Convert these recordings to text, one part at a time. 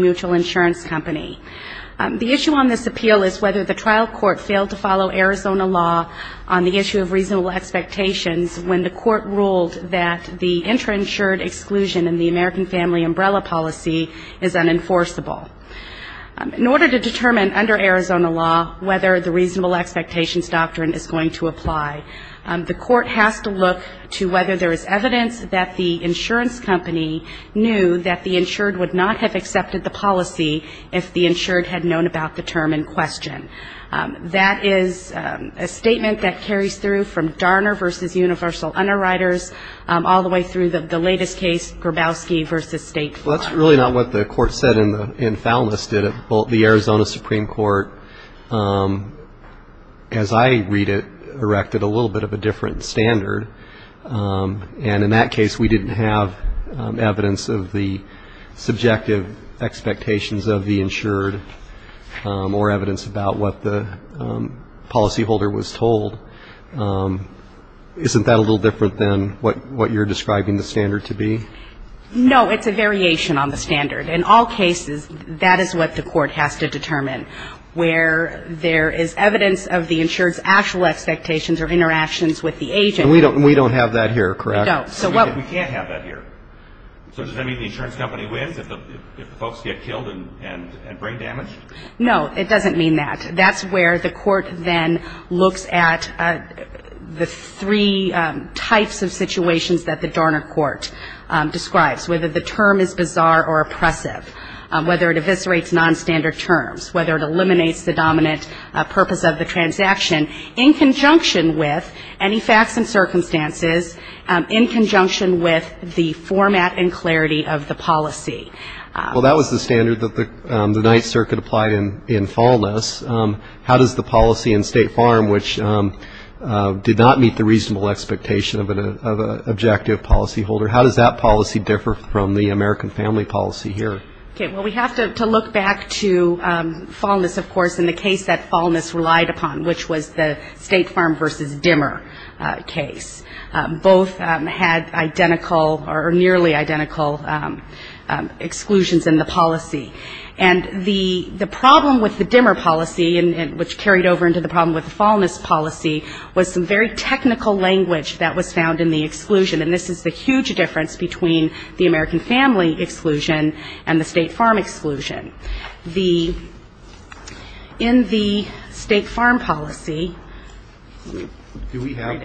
Mutual Insurance Company. The issue on this appeal is whether the trial court failed to follow Arizona law on the issue of reasonable expectations when the court ruled that the intrainsured exclusion in the American Family Umbrella policy is unenforceable. In order to determine under Arizona law whether the reasonable expectations doctrine is going to apply, the insurance company knew that the insured would not have accepted the policy if the insured had known about the term in question. That is a statement that carries through from Darner v. Universal Underwriters all the way through the latest case, Grabowski v. State Farm. That's really not what the court said in Foulness, did it? Well, the Arizona Supreme Court, as I read it, erected a little bit of a different standard. And in that case, we didn't have evidence of the subjective expectations of the insured or evidence about what the policyholder was told. Isn't that a little different than what you're describing the standard to be? No. It's a variation on the standard. In all cases, that is what the court has to determine, where there is evidence of the subjective expectations of the insured. And we don't have that here, correct? No. It doesn't mean that. That's where the court then looks at the three types of situations that the Darner court describes, whether the term is bizarre or oppressive, whether it eviscerates nonstandard terms, whether it eliminates the dominant purpose of the transaction, in conjunction with any facts and circumstances, in conjunction with the format and clarity of the policy. Well, that was the standard that the Ninth Circuit applied in Foulness. How does the policy in State Farm, which did not meet the reasonable expectation of an objective policyholder, how does that policy differ from the American family policy here? Okay. Well, we have to look back to Foulness, of course, and the case that Foulness relied upon, which was the State Farm versus Dimmer case. Both had identical or nearly identical exclusions in the policy. And the problem with the Dimmer policy, which carried over into the problem with the Foulness policy, was some very technical language that was found in the exclusion. And this is the huge difference between the American family exclusion and the State Farm exclusion. In the State Farm policy, we don't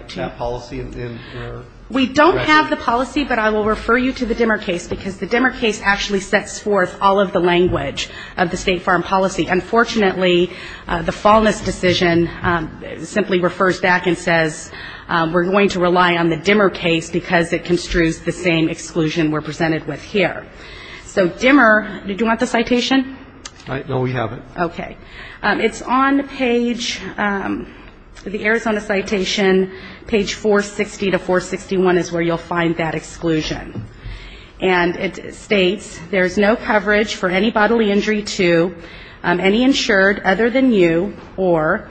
have the policy, but I will refer you to the Dimmer case, because the Dimmer case actually sets forth all of the language of the State Farm policy. Unfortunately, the Foulness decision simply refers back and says, we're going to rely on the Dimmer case, because it construes the same exclusion we're presented with here. So Dimmer, did you want the citation? No, we have it. Okay. It's on page, the Arizona citation, page 460 to 461 is where you'll find that exclusion. And it states, there's no coverage for any bodily injury to any insured other than you or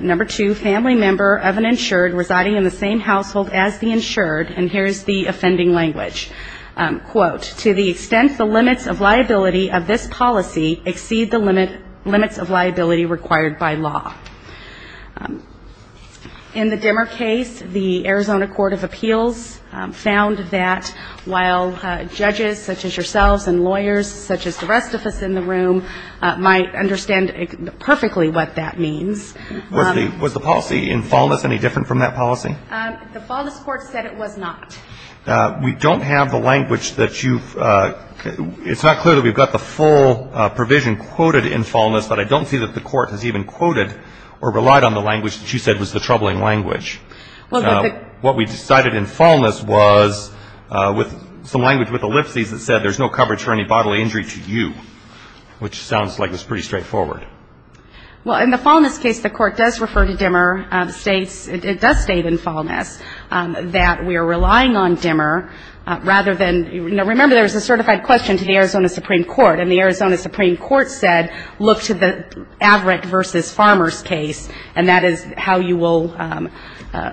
number two family member of an insured residing in the same family. And it states, the extent the limits of liability of this policy exceed the limits of liability required by law. In the Dimmer case, the Arizona Court of Appeals found that while judges such as yourselves and lawyers such as the rest of us in the room might understand perfectly what that means. Was the policy in Foulness any different from that policy? The Foulness court said it was not. We don't have the language that you've, it's not clear that we've got the full provision quoted in Foulness, but I don't see that the court has even quoted or relied on the language that you said was the troubling language. What we decided in Foulness was with some language with ellipses that said, there's no coverage for any bodily injury to you, which sounds like it's pretty straightforward. Well, in the Foulness case, the court does refer to Dimmer, states, it does state in Foulness that we are relying on Dimmer, rather than, you know, remember there was a certified question to the Arizona Supreme Court and the Arizona Supreme Court said, look to the Averitt v. Farmers case, and that is how you will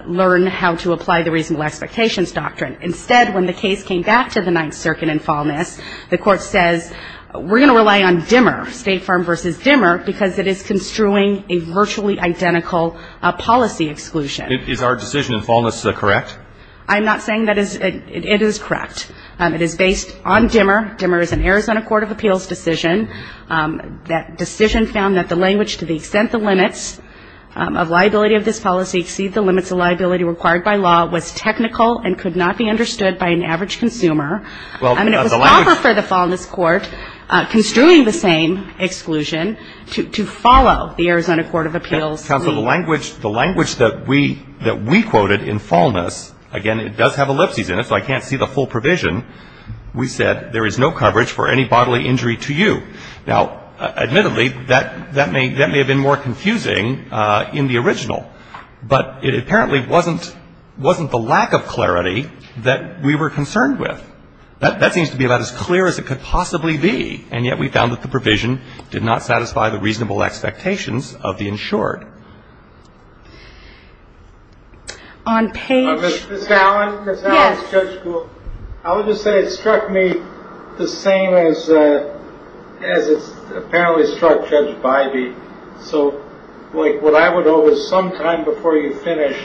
learn how to apply the reasonable expectations doctrine. Instead, when the case came back to the Ninth Circuit in Foulness, the court says, we're going to rely on Dimmer, State Farm v. Dimmer, because it is construing a virtually identical policy exclusion. Is our decision in Foulness correct? I'm not saying that is, it is correct. It is based on Dimmer. Dimmer is an Arizona Court of Appeals decision. That decision found that the language to the extent the limits of liability of this policy exceed the limits of liability required by law was technical and could not be understood by an average consumer. I mean, it was proper for the Foulness court, construing the same exclusion. To follow the Arizona Court of Appeals, we... Counsel, the language that we quoted in Foulness, again, it does have ellipses in it, so I can't see the full provision. We said, there is no coverage for any bodily injury to you. Now, admittedly, that may have been more confusing in the original, but it apparently wasn't the lack of clarity that we were concerned with. That seems to be about as clear as it could possibly be, and yet we found that the provision did not satisfy the reasonable expectations of the insured. On page... I would just say it struck me the same as it apparently struck Judge Bybee. So, like, what I would owe is sometime before you finish,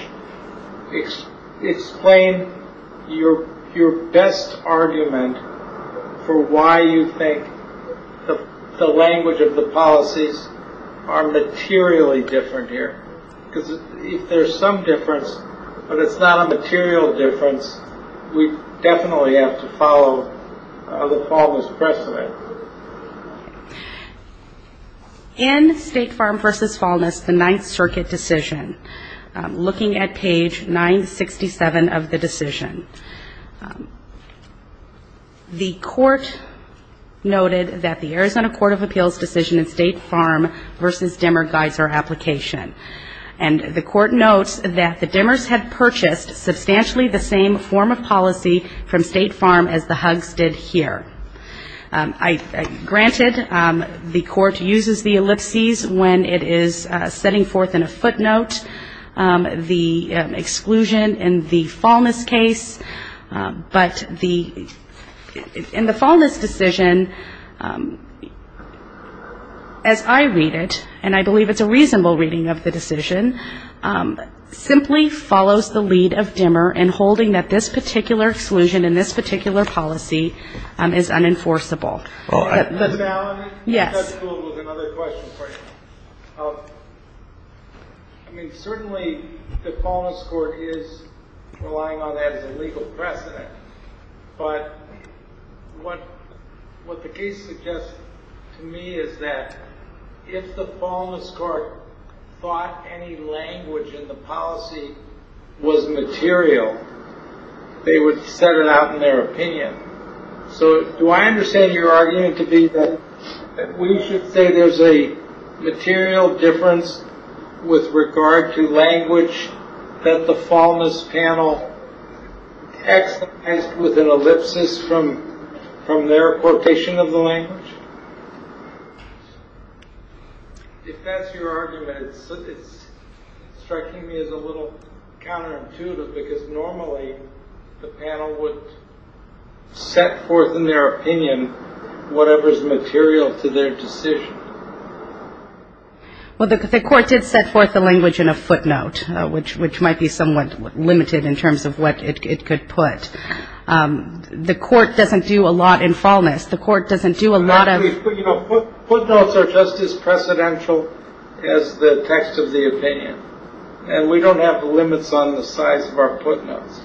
explain your best argument for why you think the language of the policies are materially different here. Because if there's some difference, but it's not a material difference, we definitely have to follow the Foulness precedent. In State Farm v. Foulness, the Ninth Circuit decision, looking at page 967 of the decision. The court noted that the Arizona Court of Appeals decision in State Farm v. Demmer guides our application. And the court notes that the Demmers had purchased substantially the same form of policy from State Farm as the Huggs did here. Granted, the court uses the ellipses when it is setting forth in a footnote the exclusion in the Foulness case, but the Foulness decision, as I read it, and I believe it's a reasonable reading of the decision, simply follows the lead of Demmer in holding that this particular exclusion in this particular policy is unenforceable. Yes. I mean, certainly the Foulness court is relying on that as a legal precedent, but I don't think that's the case here. But what the case suggests to me is that if the Foulness court thought any language in the policy was material, they would set it out in their opinion. So do I understand your argument to be that we should say there's a material difference with regard to language that the Foulness panel could have used to set forth the language in a footnote? If that's your argument, it's striking me as a little counterintuitive, because normally the panel would set forth in their opinion whatever is material to their decision. Well, the court did set forth the language in a footnote, which might be somewhat limited in terms of what it could be. But the court doesn't do a lot in Foulness. Footnotes are just as precedential as the text of the opinion, and we don't have the limits on the size of our footnotes.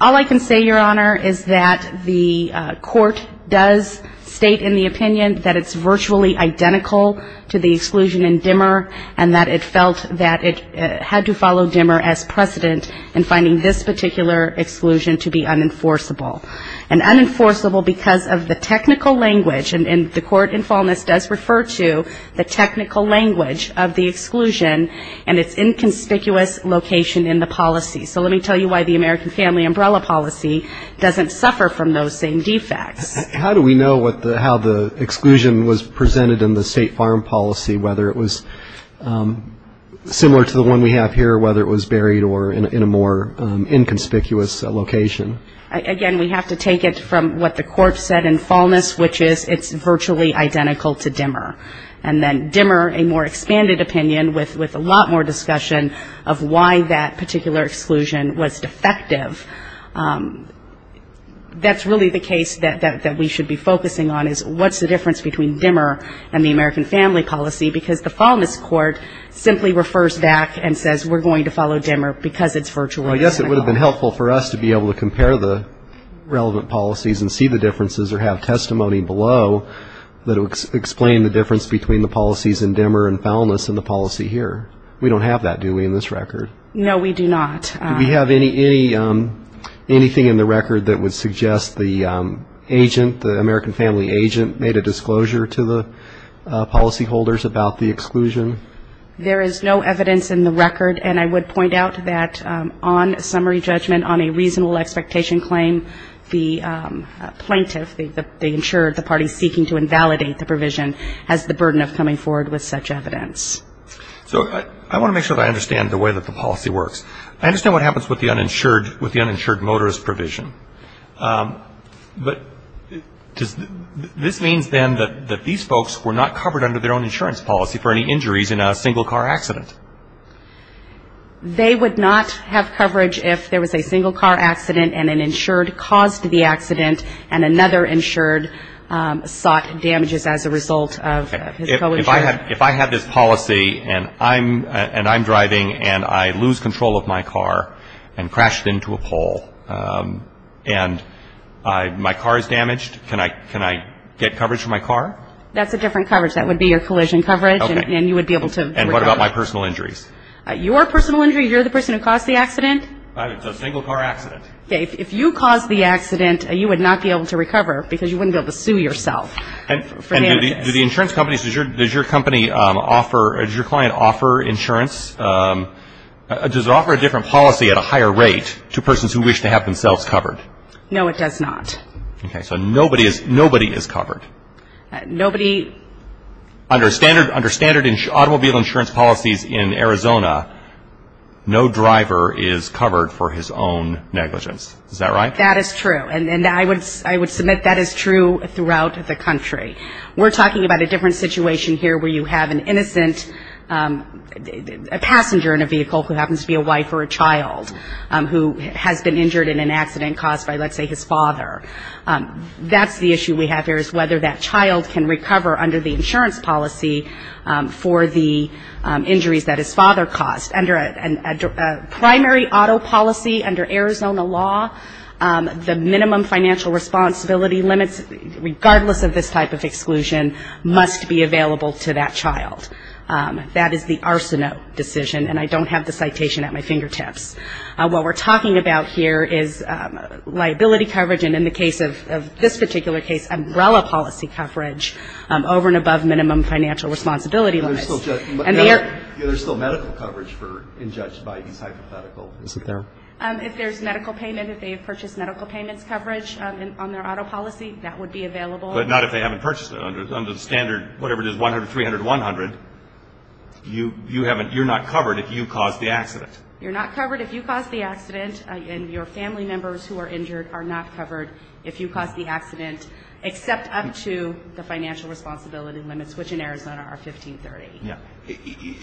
All I can say, Your Honor, is that the court does state in the opinion that it's virtually identical to the exclusion in Demmer, and that it felt that it had to follow Demmer as precedent in finding this particular exclusion to be unenforceable. And unenforceable because of the technical language, and the court in Foulness does refer to the technical language of the exclusion and its inconspicuous location in the policy. So let me tell you why the American Family Umbrella policy doesn't suffer from those same defects. How do we know how the exclusion was presented in the State Farm policy, whether it was similar to the one we have here, whether it was buried in a more inconspicuous location? Again, we have to take it from what the court said in Foulness, which is it's virtually identical to Demmer. And then Demmer, a more expanded opinion with a lot more discussion of why that particular exclusion was defective. That's really the case that we should be focusing on, is what's the difference between Demmer and the American Family policy, because the Foulness court simply refers back and says we're going to follow Demmer because it's virtually identical. Yes, it would have been helpful for us to be able to compare the relevant policies and see the differences or have testimony below that would explain the difference between the policies in Demmer and Foulness and the policy here. We don't have that, do we, in this record? No, we do not. Do we have anything in the record that would suggest the agent, the American Family agent, made a disclosure to the policyholders about the exclusion? There is no evidence in the record, and I would point out that on summary judgment on a reasonable expectation claim, the plaintiff, they insured the parties seeking to invalidate the provision, has the burden of coming forward with such evidence. So I want to make sure that I understand the way that the policy works. I understand what happens with the uninsured motorist provision, but this means then that these folks were not covered under their own insurance policy for any injuries in a single car accident. They would not have coverage if there was a single car accident and an insured caused the accident and another insured sought damages as a result of his co-insurer. If I have this policy and I'm driving and I lose control of my car and crash into a pole and my car is damaged, can I get coverage for my car? That's a different coverage. That would be your collision coverage and you would be able to recover. And what about my personal injuries? Your personal injuries, you're the person who caused the accident? It's a single car accident. If you caused the accident, you would not be able to recover because you wouldn't be able to sue yourself for damages. And do the insurance companies, does your company offer, does your client offer insurance, does it offer a different policy at a higher rate to persons who wish to have themselves covered? No, it does not. Okay, so nobody is covered. Under standard automobile insurance policies in Arizona, no driver is covered for his own negligence. Is that right? That is true. And I would submit that is true throughout the country. We're talking about a different situation here where you have an innocent passenger in a vehicle who happens to be a wife or a child who has been injured in an accident caused by, let's say, his father. That's the issue we have here is whether that child can recover under the insurance policy for the injuries that his father caused. Under a primary auto policy under Arizona law, the minimum financial responsibility limits, regardless of this type of exclusion, must be available to that child. That is the Arsenault decision, and I don't have the citation at my fingertips. What we're talking about here is liability coverage, and in the case of this particular case, umbrella policy coverage over and above minimum financial responsibility limits. There's still medical coverage for injudged by these hypothetical. If there's medical payment, if they have purchased medical payment coverage on their auto policy, that would be available. But not if they haven't purchased it. Under standard, whatever it is, 100, 300, 100, you haven't, you're not covered if you caused the accident. And your family members who are injured are not covered if you caused the accident, except up to the financial responsibility limits, which in Arizona are 1530.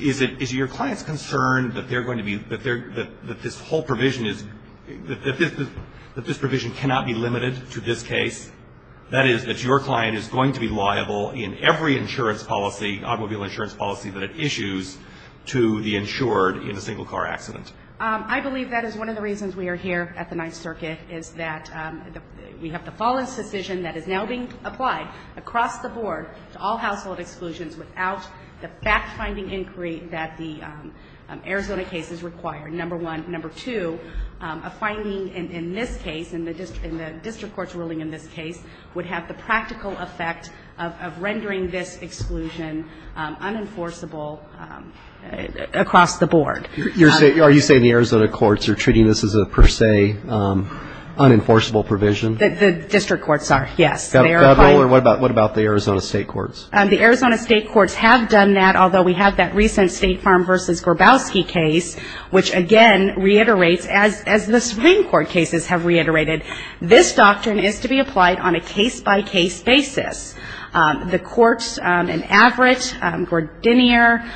Is it, is your client's concern that they're going to be, that this whole provision is, that this provision cannot be limited to this case? That is, that your client is going to be liable in every insurance policy, automobile insurance policy that it issues to the insured in a particular case. And that is one of the reasons we are here at the Ninth Circuit, is that we have to follow a decision that is now being applied across the board to all household exclusions without the fact-finding inquiry that the Arizona case has required. Number one. Number two, a finding in this case, in the district court's ruling in this case, would have the practical effect of rendering this exclusion unenforceable across the board. Are you saying the Arizona courts are treating this as a per se unenforceable provision? The district courts are, yes. What about the Arizona state courts? The Arizona state courts have done that, although we have that recent State Farm v. Grabowski case, which, again, reiterates, as the Supreme Court cases have reiterated, this doctrine is to be applied on a case-by-case basis. The courts in Averitt, Gordinier,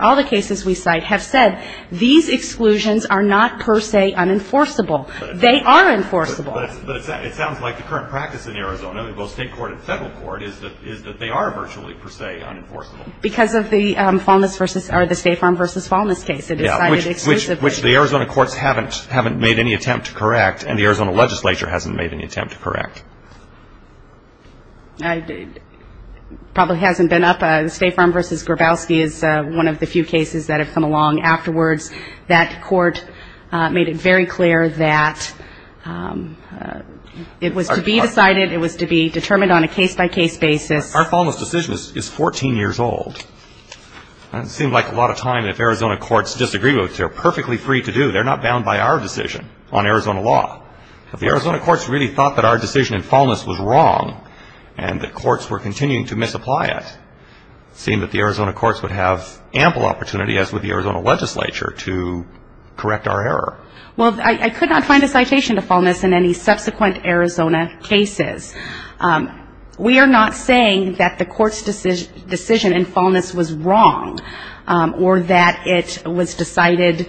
all the cases we cite have said, these exclusions are not per se unenforceable. They are enforceable. But it sounds like the current practice in Arizona, both state court and federal court, is that they are virtually per se unenforceable. Because of the State Farm v. Faulness case. Which the Arizona courts haven't made any attempt to correct, and the Arizona legislature hasn't made any attempt to correct. It probably hasn't been up, State Farm v. Grabowski is one of the few cases that have come along afterwards. That court made it very clear that it was to be decided, it was to be determined on a case-by-case basis. Our Faulness decision is 14 years old. It seems like a lot of time, if Arizona courts disagree, which they are perfectly free to do, they are not bound by our decision on Arizona law. If the Arizona courts really thought that our decision in Faulness was wrong, and the courts were continuing to misapply it, it would seem that the Arizona courts would have ample opportunity, as would the Arizona legislature, to correct our error. Well, I could not find a citation to Faulness in any subsequent Arizona cases. We are not saying that the court's decision in Faulness was wrong, or that it was decided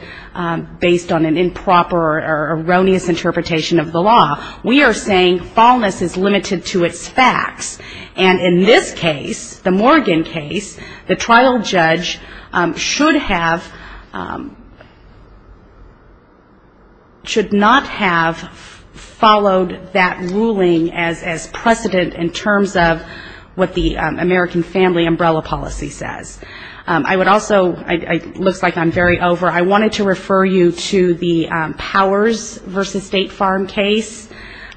based on an improper or erroneous interpretation of the law. We are saying Faulness is limited to its facts. And in this case, the Morgan case, the trial judge should have, should not have followed that ruling as a fact. It should have followed that ruling as precedent in terms of what the American Family Umbrella Policy says. I would also, it looks like I'm very over, I wanted to refer you to the Powers v. State Farm case.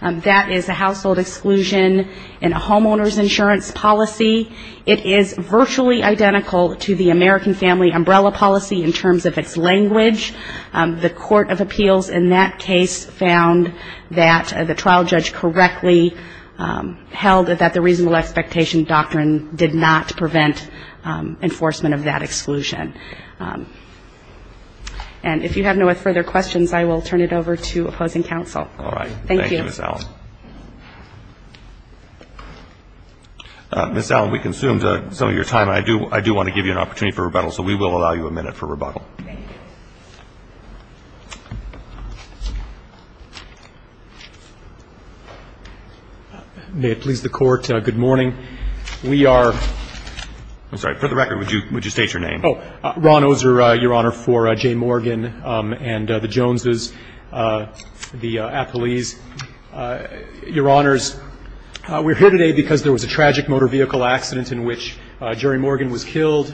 That is a household exclusion in a homeowner's insurance policy. It is virtually identical to the American Family Umbrella Policy in terms of its language. The Court of Appeals in that case found that the trial judge correctly referred to the American Family Umbrella Policy. Held that the reasonable expectation doctrine did not prevent enforcement of that exclusion. And if you have no further questions, I will turn it over to opposing counsel. Ms. Allen, we consumed some of your time, and I do want to give you an opportunity for rebuttal, so we will allow you a minute for rebuttal. May it please the Court, good morning. We are, I'm sorry, for the record, would you state your name? Oh, Ron Oser, Your Honor, for J. Morgan and the Joneses, the Appellees. Your Honors, we're here today because there was a tragic motor vehicle accident in which Jerry Morgan was killed.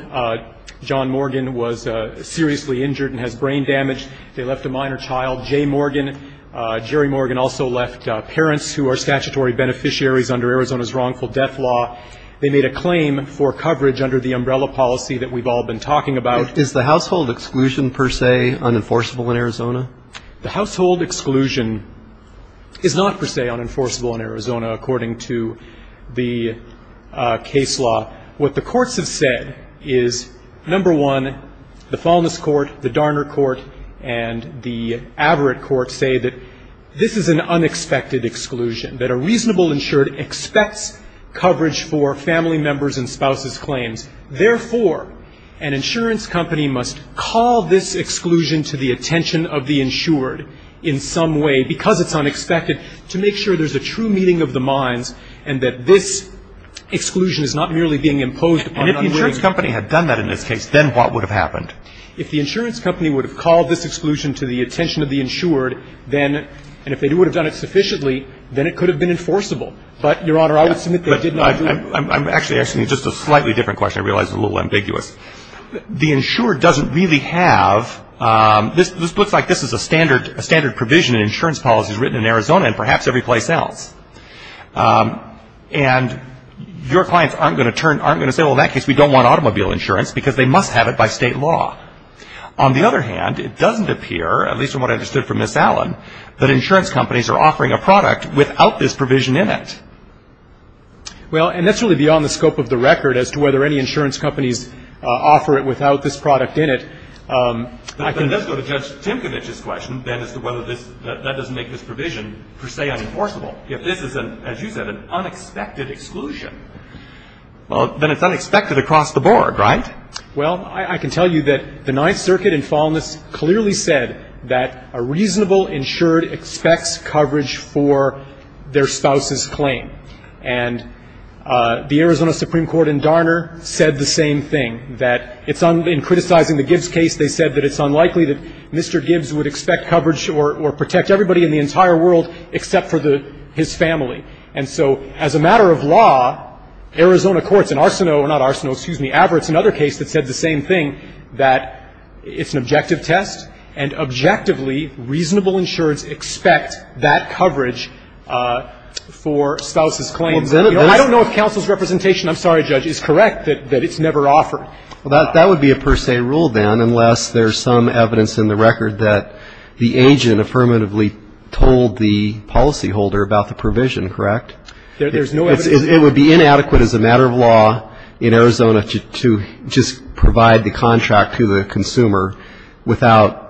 John Morgan was seriously injured and has brain damage. They left a minor child. J. Morgan, Jerry Morgan also left parents who are statutory beneficiaries under Arizona's wrongful death law. They made a claim for coverage under the umbrella policy that we've all been talking about. Is the household exclusion, per se, unenforceable in Arizona? The household exclusion is not, per se, unenforceable in Arizona according to the case law. What the courts have said is, number one, the Faulness Court, the Darner Court, and the Averitt Court say that this is an unexpected exclusion. That a reasonable insured expects coverage for family members and spouses' claims. Therefore, an insurance company must call this exclusion to the attention of the insured in some way, because it's unexpected, to make sure there's a true meeting of the minds and that this exclusion is not merely being imposed upon an unwitting... And if the insurance company had done that in this case, then what would have happened? If the insurance company would have called this exclusion to the attention of the insured, and if they would have done it sufficiently, then it could have been enforceable. But, Your Honor, I would submit they did not do it. I'm actually asking you just a slightly different question. I realize it's a little ambiguous. The insured doesn't really have... This looks like this is a standard provision in insurance policies written in Arizona and perhaps every place else. And your clients aren't going to turn... Aren't going to say, well, in that case, we don't want automobile insurance, because they must have it by state law. On the other hand, it doesn't appear, at least from what I understood from Ms. Allen, that insurance companies are offering a product without this provision in it. Well, and that's really beyond the scope of the record as to whether any insurance companies offer it without this product in it. Then let's go to Judge Timkovich's question, then, as to whether that doesn't make this provision per se unenforceable. If this is, as you said, an unexpected exclusion, well, then it's unexpected across the board, right? Well, I can tell you that the Ninth Circuit in Falmouth clearly said that a reasonable insured expects coverage for their spouse's claim. And the Arizona Supreme Court in Darner said the same thing, that in criticizing the Gibbs case, they said that it's unlikely that Mr. Gibbs would expect coverage or protect everybody in the entire world except for his family. And so, as a matter of law, Arizona courts in Arsenault, not Arsenault, excuse me, Averitts, another case that said the same thing, that it's an objective test, and objectively, reasonable insureds expect that coverage for spouse's claims. I don't know if counsel's representation, I'm sorry, Judge, is correct that it's never offered. Well, that would be a per se rule, then, unless there's some evidence in the record that the agent affirmatively told the policyholder about the provision, correct? There's no evidence. It would be inadequate as a matter of law in Arizona to just provide the contract to the consumer without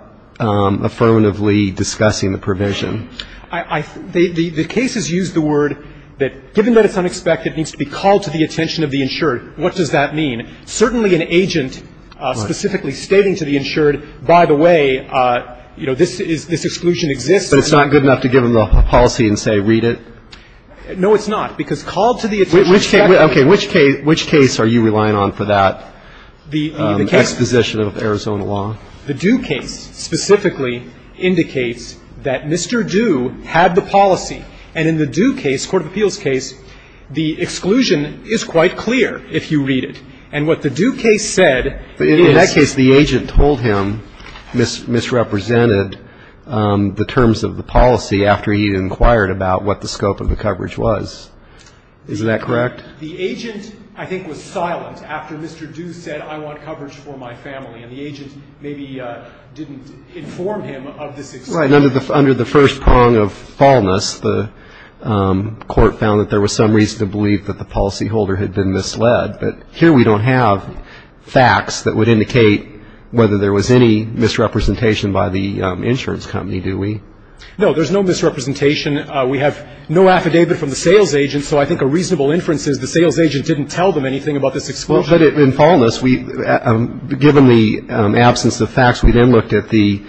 affirmatively discussing the provision. The cases use the word that, given that it's unexpected, it needs to be called to the attention of the insured. What does that mean? Certainly an agent specifically stating to the insured, by the way, you know, this exclusion exists. But it's not good enough to give them the policy and say read it? No, it's not. Because called to the attention of the insured. Okay. Which case are you relying on for that exposition of Arizona law? The Due case specifically indicates that Mr. Due had the policy. And in the Due case, court of appeals case, the exclusion is quite clear if you read it. And what the Due case said is. In that case, the agent told him misrepresented the terms of the policy after he inquired about what the scope of the coverage was. Is that correct? The agent, I think, was silent after Mr. Due said I want coverage for my family. And the agent maybe didn't inform him of this exclusion. Right. Under the first prong of fallness, the court found that there was some reason to believe that the policyholder had been misled. But here we don't have facts that would indicate whether there was any misrepresentation by the insurance company, do we? No. There's no misrepresentation. We have no affidavit from the sales agent. So I think a reasonable inference is the sales agent didn't tell them anything about this exclusion. But in fallness, given the absence of facts, we then looked at the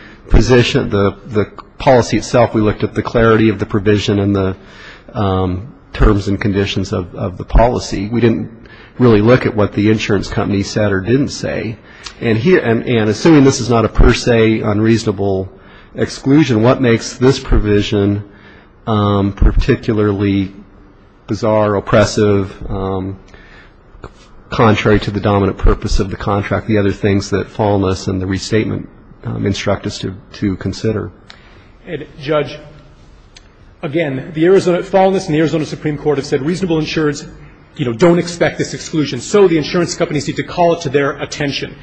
policy itself. We looked at the clarity of the provision and the terms and conditions of the policy. We didn't really look at what the insurance company said or didn't say. And assuming this is not a per se unreasonable exclusion, what makes this provision particularly bizarre, oppressive, contrary to the dominant purpose of the contract, the other things that fallness and the restatement instruct us to consider? Judge, again, the Arizona fallness and the Arizona Supreme Court have said that reasonable insureds don't expect this exclusion. So the insurance companies need to call it to their attention.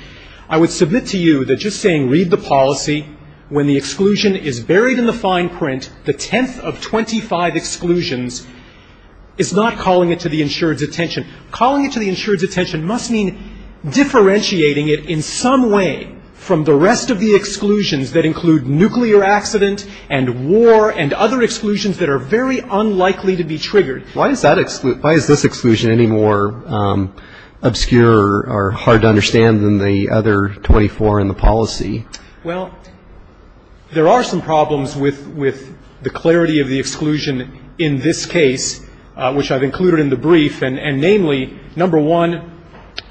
I would submit to you that just saying read the policy when the exclusion is buried in the fine print, the 10th of 25 exclusions is not calling it to the insured's attention. Calling it to the insured's attention must mean differentiating it in some way from the rest of the exclusions that include nuclear accident and war and other exclusions that are very unlikely to be triggered. Why is this exclusion any more obscure or hard to understand than the other 24 in the policy? Well, there are some problems with the clarity of the exclusion in this case, which I've included in the brief. And namely, number one,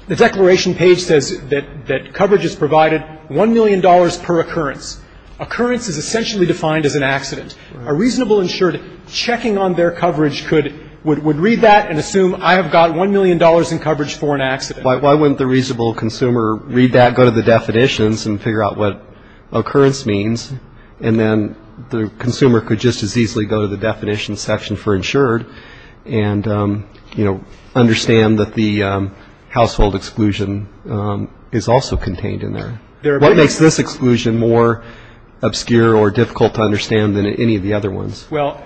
the declaration page says that coverage is provided $1 million per occurrence. Occurrence is essentially defined as an accident. A reasonable insured checking on their coverage would read that and assume I have got $1 million in coverage for an accident. Why wouldn't the reasonable consumer read that, go to the definitions and figure out what occurrence means? And then the consumer could just as easily go to the definitions section for insured and understand that the household exclusion is also contained in there. What makes this exclusion more obscure or difficult to understand than any of the other ones? Well,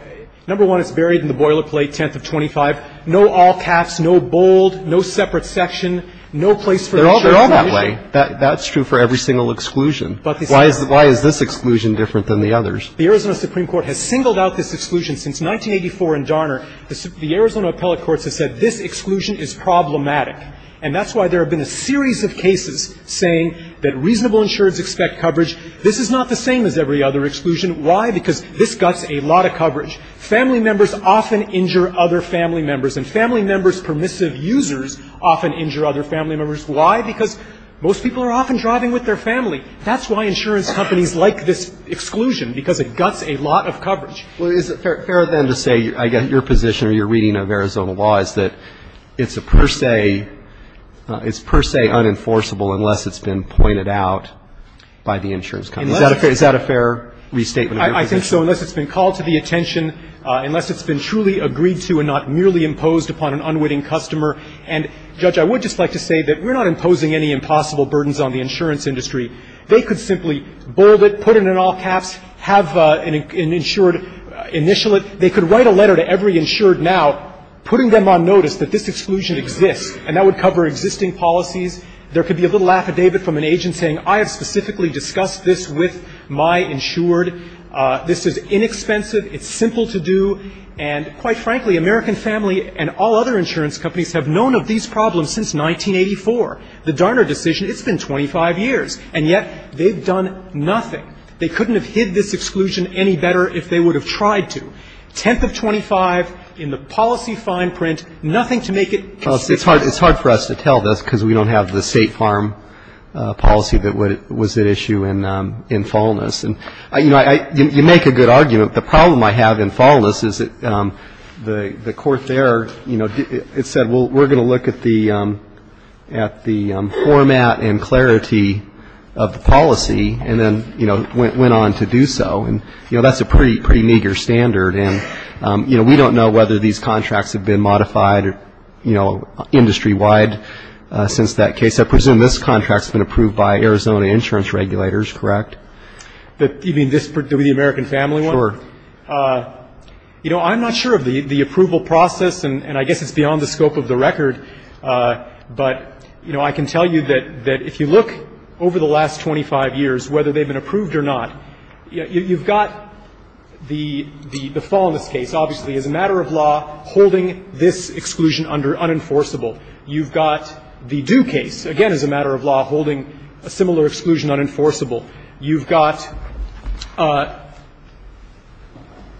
number one, it's buried in the boilerplate, 10th of 25. No all caps, no bold, no separate section, no place for insurance. They're all that way. That's true for every single exclusion. Why is this exclusion different than the others? The Arizona Supreme Court has singled out this exclusion since 1984 in Darner. The Arizona appellate courts have said this exclusion is problematic. And that's why there have been a series of cases saying that reasonable insureds expect coverage. This is not the same as every other exclusion. Why? Because this guts a lot of coverage. Family members often injure other family members. And family members' permissive users often injure other family members. Why? Because most people are often driving with their family. That's why insurance companies like this exclusion, because it guts a lot of coverage. Well, is it fair then to say, I get your position or your reading of Arizona law, is that it's a per se, it's per se unenforceable unless it's been pointed out by the insurance company? Is that a fair restatement of your position? I think so, unless it's been called to the attention, unless it's been truly agreed to and not merely imposed upon an unwitting customer. And, Judge, I would just like to say that we're not imposing any impossible burdens on the insurance industry. They could simply bold it, put it in all caps, have an insured initial it. They could write a letter to every insured now putting them on notice that this exclusion exists. And that would cover existing policies. There could be a little affidavit from an agent saying, I have specifically discussed this with my insured. This is inexpensive. It's simple to do. And, quite frankly, American Family and all other insurance companies have known of these problems since 1984. The Darner decision, it's been 25 years. And yet they've done nothing. They couldn't have hid this exclusion any better if they would have tried to. Tenth of 25 in the policy fine print, nothing to make it consistent. It's hard for us to tell this because we don't have the State Farm policy that was at issue in Falleness. And, you know, you make a good argument. The problem I have in Falleness is that the court there, you know, it said, well, we're going to look at the format and clarity of the policy and then, you know, went on to do so. And, you know, that's a pretty meager standard. You know, we don't know whether these contracts have been modified, you know, industry-wide since that case. I presume this contract's been approved by Arizona insurance regulators, correct? You mean this, the American Family one? Sure. You know, I'm not sure of the approval process. And I guess it's beyond the scope of the record. But, you know, I can tell you that if you look over the last 25 years, whether they've been approved or not, you've got the Falleness case, obviously, as a matter of law, holding this exclusion under unenforceable. You've got the Due case, again, as a matter of law, holding a similar exclusion unenforceable. You've got,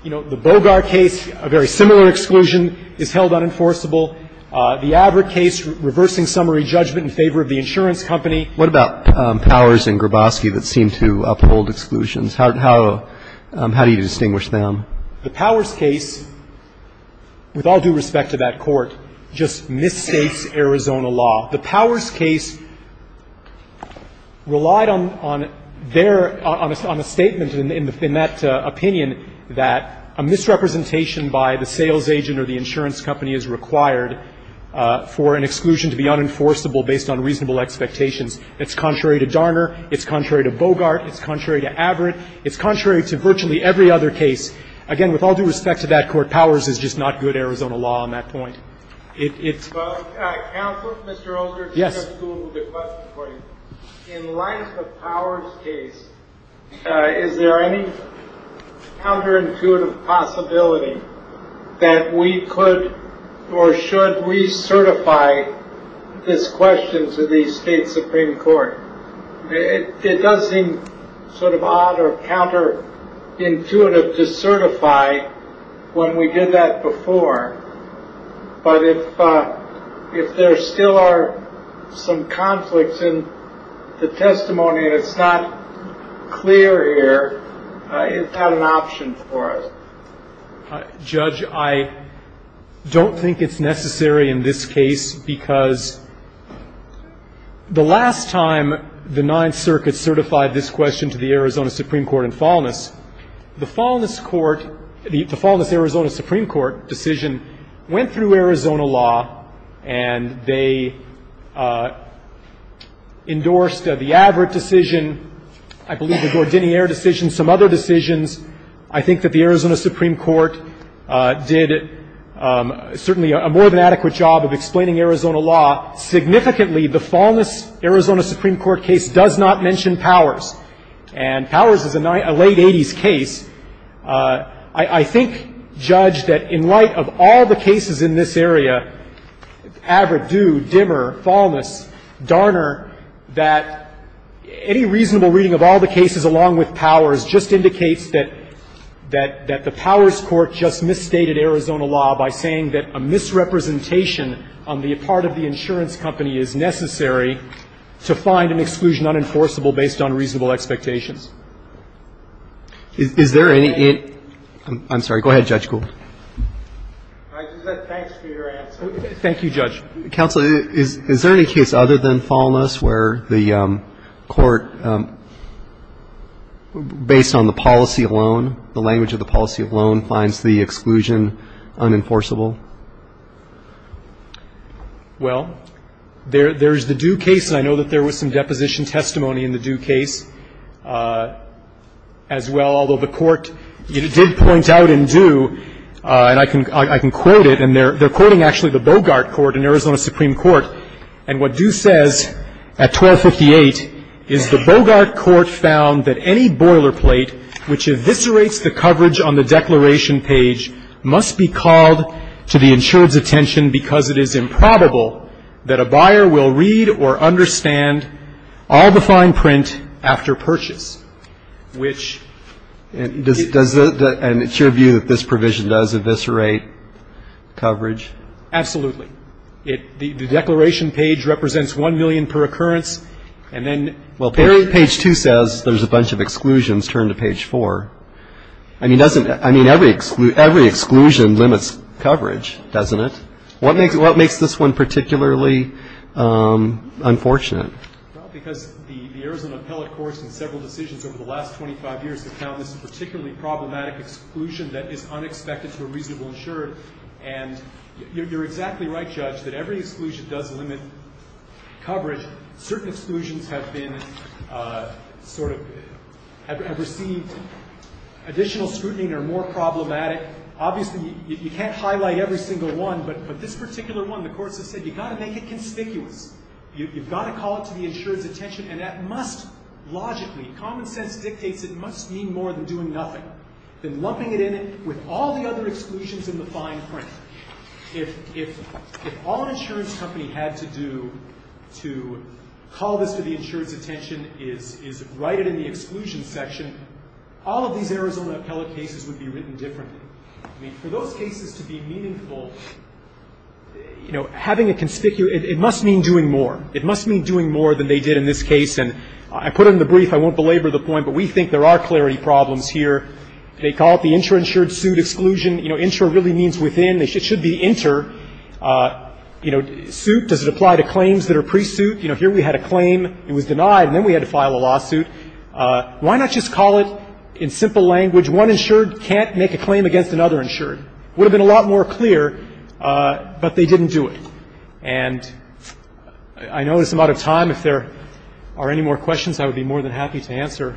you know, the Bogart case, a very similar exclusion is held unenforceable. The Averitt case, reversing summary judgment in favor of the insurance company. What about Powers and Grabowski that seem to uphold exclusions? How do you distinguish them? The Powers case, with all due respect to that Court, just misstates Arizona law. The Powers case relied on a statement in that opinion that a misrepresentation by the sales agent or the insurance company is required for an exclusion to be unenforceable based on reasonable expectations. It's contrary to Darner. It's contrary to Bogart. It's contrary to Averitt. It's contrary to virtually every other case. Again, with all due respect to that Court, Powers is just not good Arizona law on that point. It's... Counselor? Mr. Olson? Yes. In light of the Powers case, is there any counterintuitive possibility that we could or should recertify this question to the State Supreme Court? It does seem sort of odd or counterintuitive to certify when we did that before, but if there still are some conflicts in the testimony and it's not clear here, is that an option for us? Judge, I don't think it's necessary in this case because the last time the Ninth Circuit certified this question to the Arizona Supreme Court in Faulness, the Faulness Arizona Supreme Court decision went through Arizona law and they endorsed the Averitt decision, I believe the Gordinier decision, some other decisions. I think that the Arizona Supreme Court did certainly a more than adequate job of explaining Arizona law. Significantly, the Faulness Arizona Supreme Court case does not mention Powers and Powers is a late 80s case. I think, Judge, that in light of all the cases in this area, Averitt, Due, Dimmer, Faulness, Darner, that any reasonable reading of all the cases along with Powers just indicates that the Powers court just misstated Arizona law by saying that a misrepresentation on the part of the insurance company is necessary to find an exclusion unenforceable based on reasonable expectations. Is there any... I'm sorry. Go ahead, Judge Gould. Thanks for your answer. Thank you, Judge. Counsel, is there any case other than Faulness where the court, based on the policy alone, the language of the policy alone, finds the exclusion unenforceable? Well, there's the Due case, and I know that there was some deposition testimony in the Due case as well, although the court did point out in Due, and I can quote it, and they're quoting actually the Bogart court in Arizona Supreme Court, and what Due says at 1258 is the Bogart court found that any boilerplate which eviscerates the coverage on the declaration page must be called to the insured's attention because it is improbable that a buyer will read or understand all the fine print after purchase, which... And it's your view that this provision does eviscerate coverage? Absolutely. The declaration page represents 1 million per occurrence, and then... Well, page 2 says there's a bunch of exclusions. Turn to page 4. I mean, every exclusion limits coverage, doesn't it? What makes this one particularly unfortunate? Well, because the Arizona Appellate Court's in several decisions over the last 25 years have found this particularly problematic exclusion that is unexpected to a reasonable insured, and you're exactly right, Judge, that every exclusion does limit coverage. Certain exclusions have been sort of... have received additional scrutiny and are more problematic. Obviously, you can't highlight every single one, but this particular one, the courts have said, you've got to make it conspicuous. You've got to call it to the insured's attention, and that must logically... It must mean more than doing nothing, than lumping it in with all the other exclusions in the fine print. If all an insurance company had to do to call this to the insured's attention is write it in the exclusion section, all of these Arizona appellate cases would be written differently. I mean, for those cases to be meaningful... You know, having a conspicuous... It must mean doing more. It must mean doing more than they did in this case, and I put it in the brief. I won't belabor the point, but we think there are clarity problems here. They call it the intra-insured suit exclusion. You know, intra really means within. It should be inter. You know, suit, does it apply to claims that are pre-suit? You know, here we had a claim. It was denied, and then we had to file a lawsuit. Why not just call it, in simple language, one insured can't make a claim against another insured? It would have been a lot more clear, but they didn't do it. And I know I'm out of time. If there are any more questions, I would be more than happy to answer.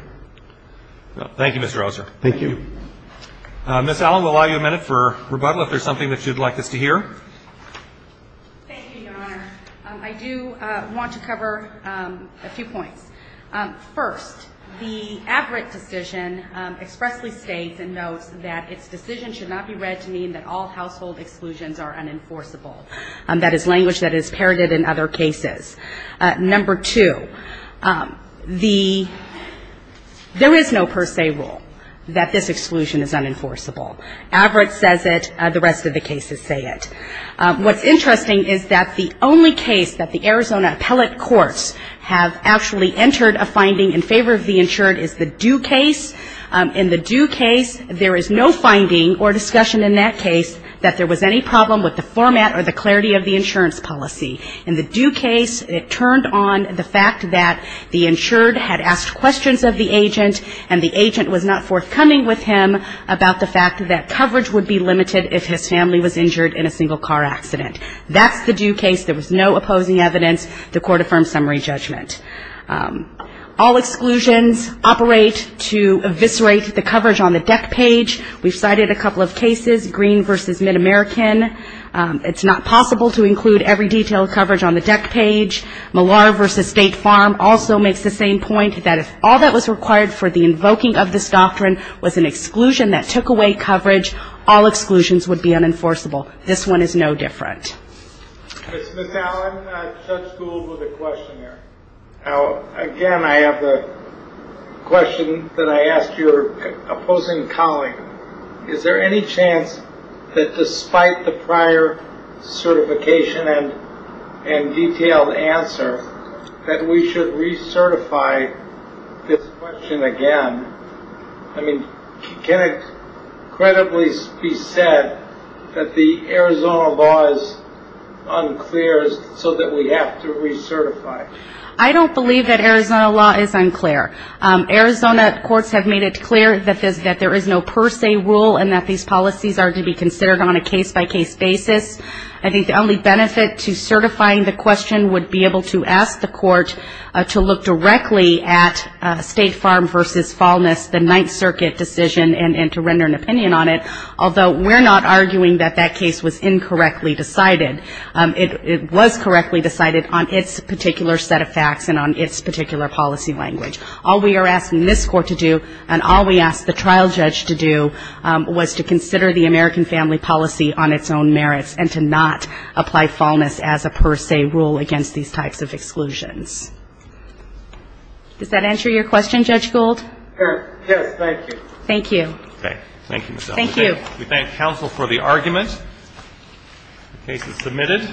Thank you, Mr. Osler. Thank you. Ms. Allen, we'll allow you a minute for rebuttal if there's something that you'd like us to hear. Thank you, Your Honor. I do want to cover a few points. First, the Abbott decision expressly states and notes that its decision should not be read to mean that all household exclusions are unenforceable. That is language that is parroted in other cases. Number two, there is no per se rule that this exclusion is unenforceable. Abbott says it. The rest of the cases say it. What's interesting is that the only case that the Arizona appellate courts have actually entered a finding in favor of the insured is the Due case. In the Due case, there is no finding or discussion in that case that there was any problem with the format or the clarity of the insurance policy. In the Due case, it turned on the fact that the insured had asked questions of the agent and the agent was not forthcoming with him about the fact that coverage would be limited if his family was injured in a single-car accident. That's the Due case. There was no opposing evidence. The court affirmed summary judgment. All exclusions operate to eviscerate the coverage on the deck page. We've cited a couple of cases, Green v. MidAmerican. It's not possible to include every detail of coverage on the deck page. Millar v. State Farm also makes the same point that if all that was required for the invoking of this doctrine was an exclusion that took away coverage, all exclusions would be unenforceable. This one is no different. Ms. Allen, Judge Gould with a question here. Again, I have a question that I ask your opposing colleague. Is there any chance that despite the prior certification and detailed answer that we should recertify this question again? I mean, can it credibly be said that the Arizona law is unclear so that we have to recertify? I don't believe that Arizona law is unclear. Arizona courts have made it clear that there is no per se rule and that these policies are to be considered on a case-by-case basis. I think the only benefit to certifying the question would be able to ask the court to look directly at State Farm v. Faulness, the Ninth Circuit decision, and to render an opinion on it, although we're not arguing that that case was incorrectly decided. It was correctly decided on its particular set of facts and on its particular policy language. All we are asking this Court to do and all we ask the trial judge to do was to consider the American family policy on its own merits and to not apply Faulness as a per se rule against these types of exclusions. Does that answer your question, Judge Gould? Yes. Thank you. Thank you. Thank you, Ms. Allen. Thank you. We thank counsel for the argument. The case is submitted.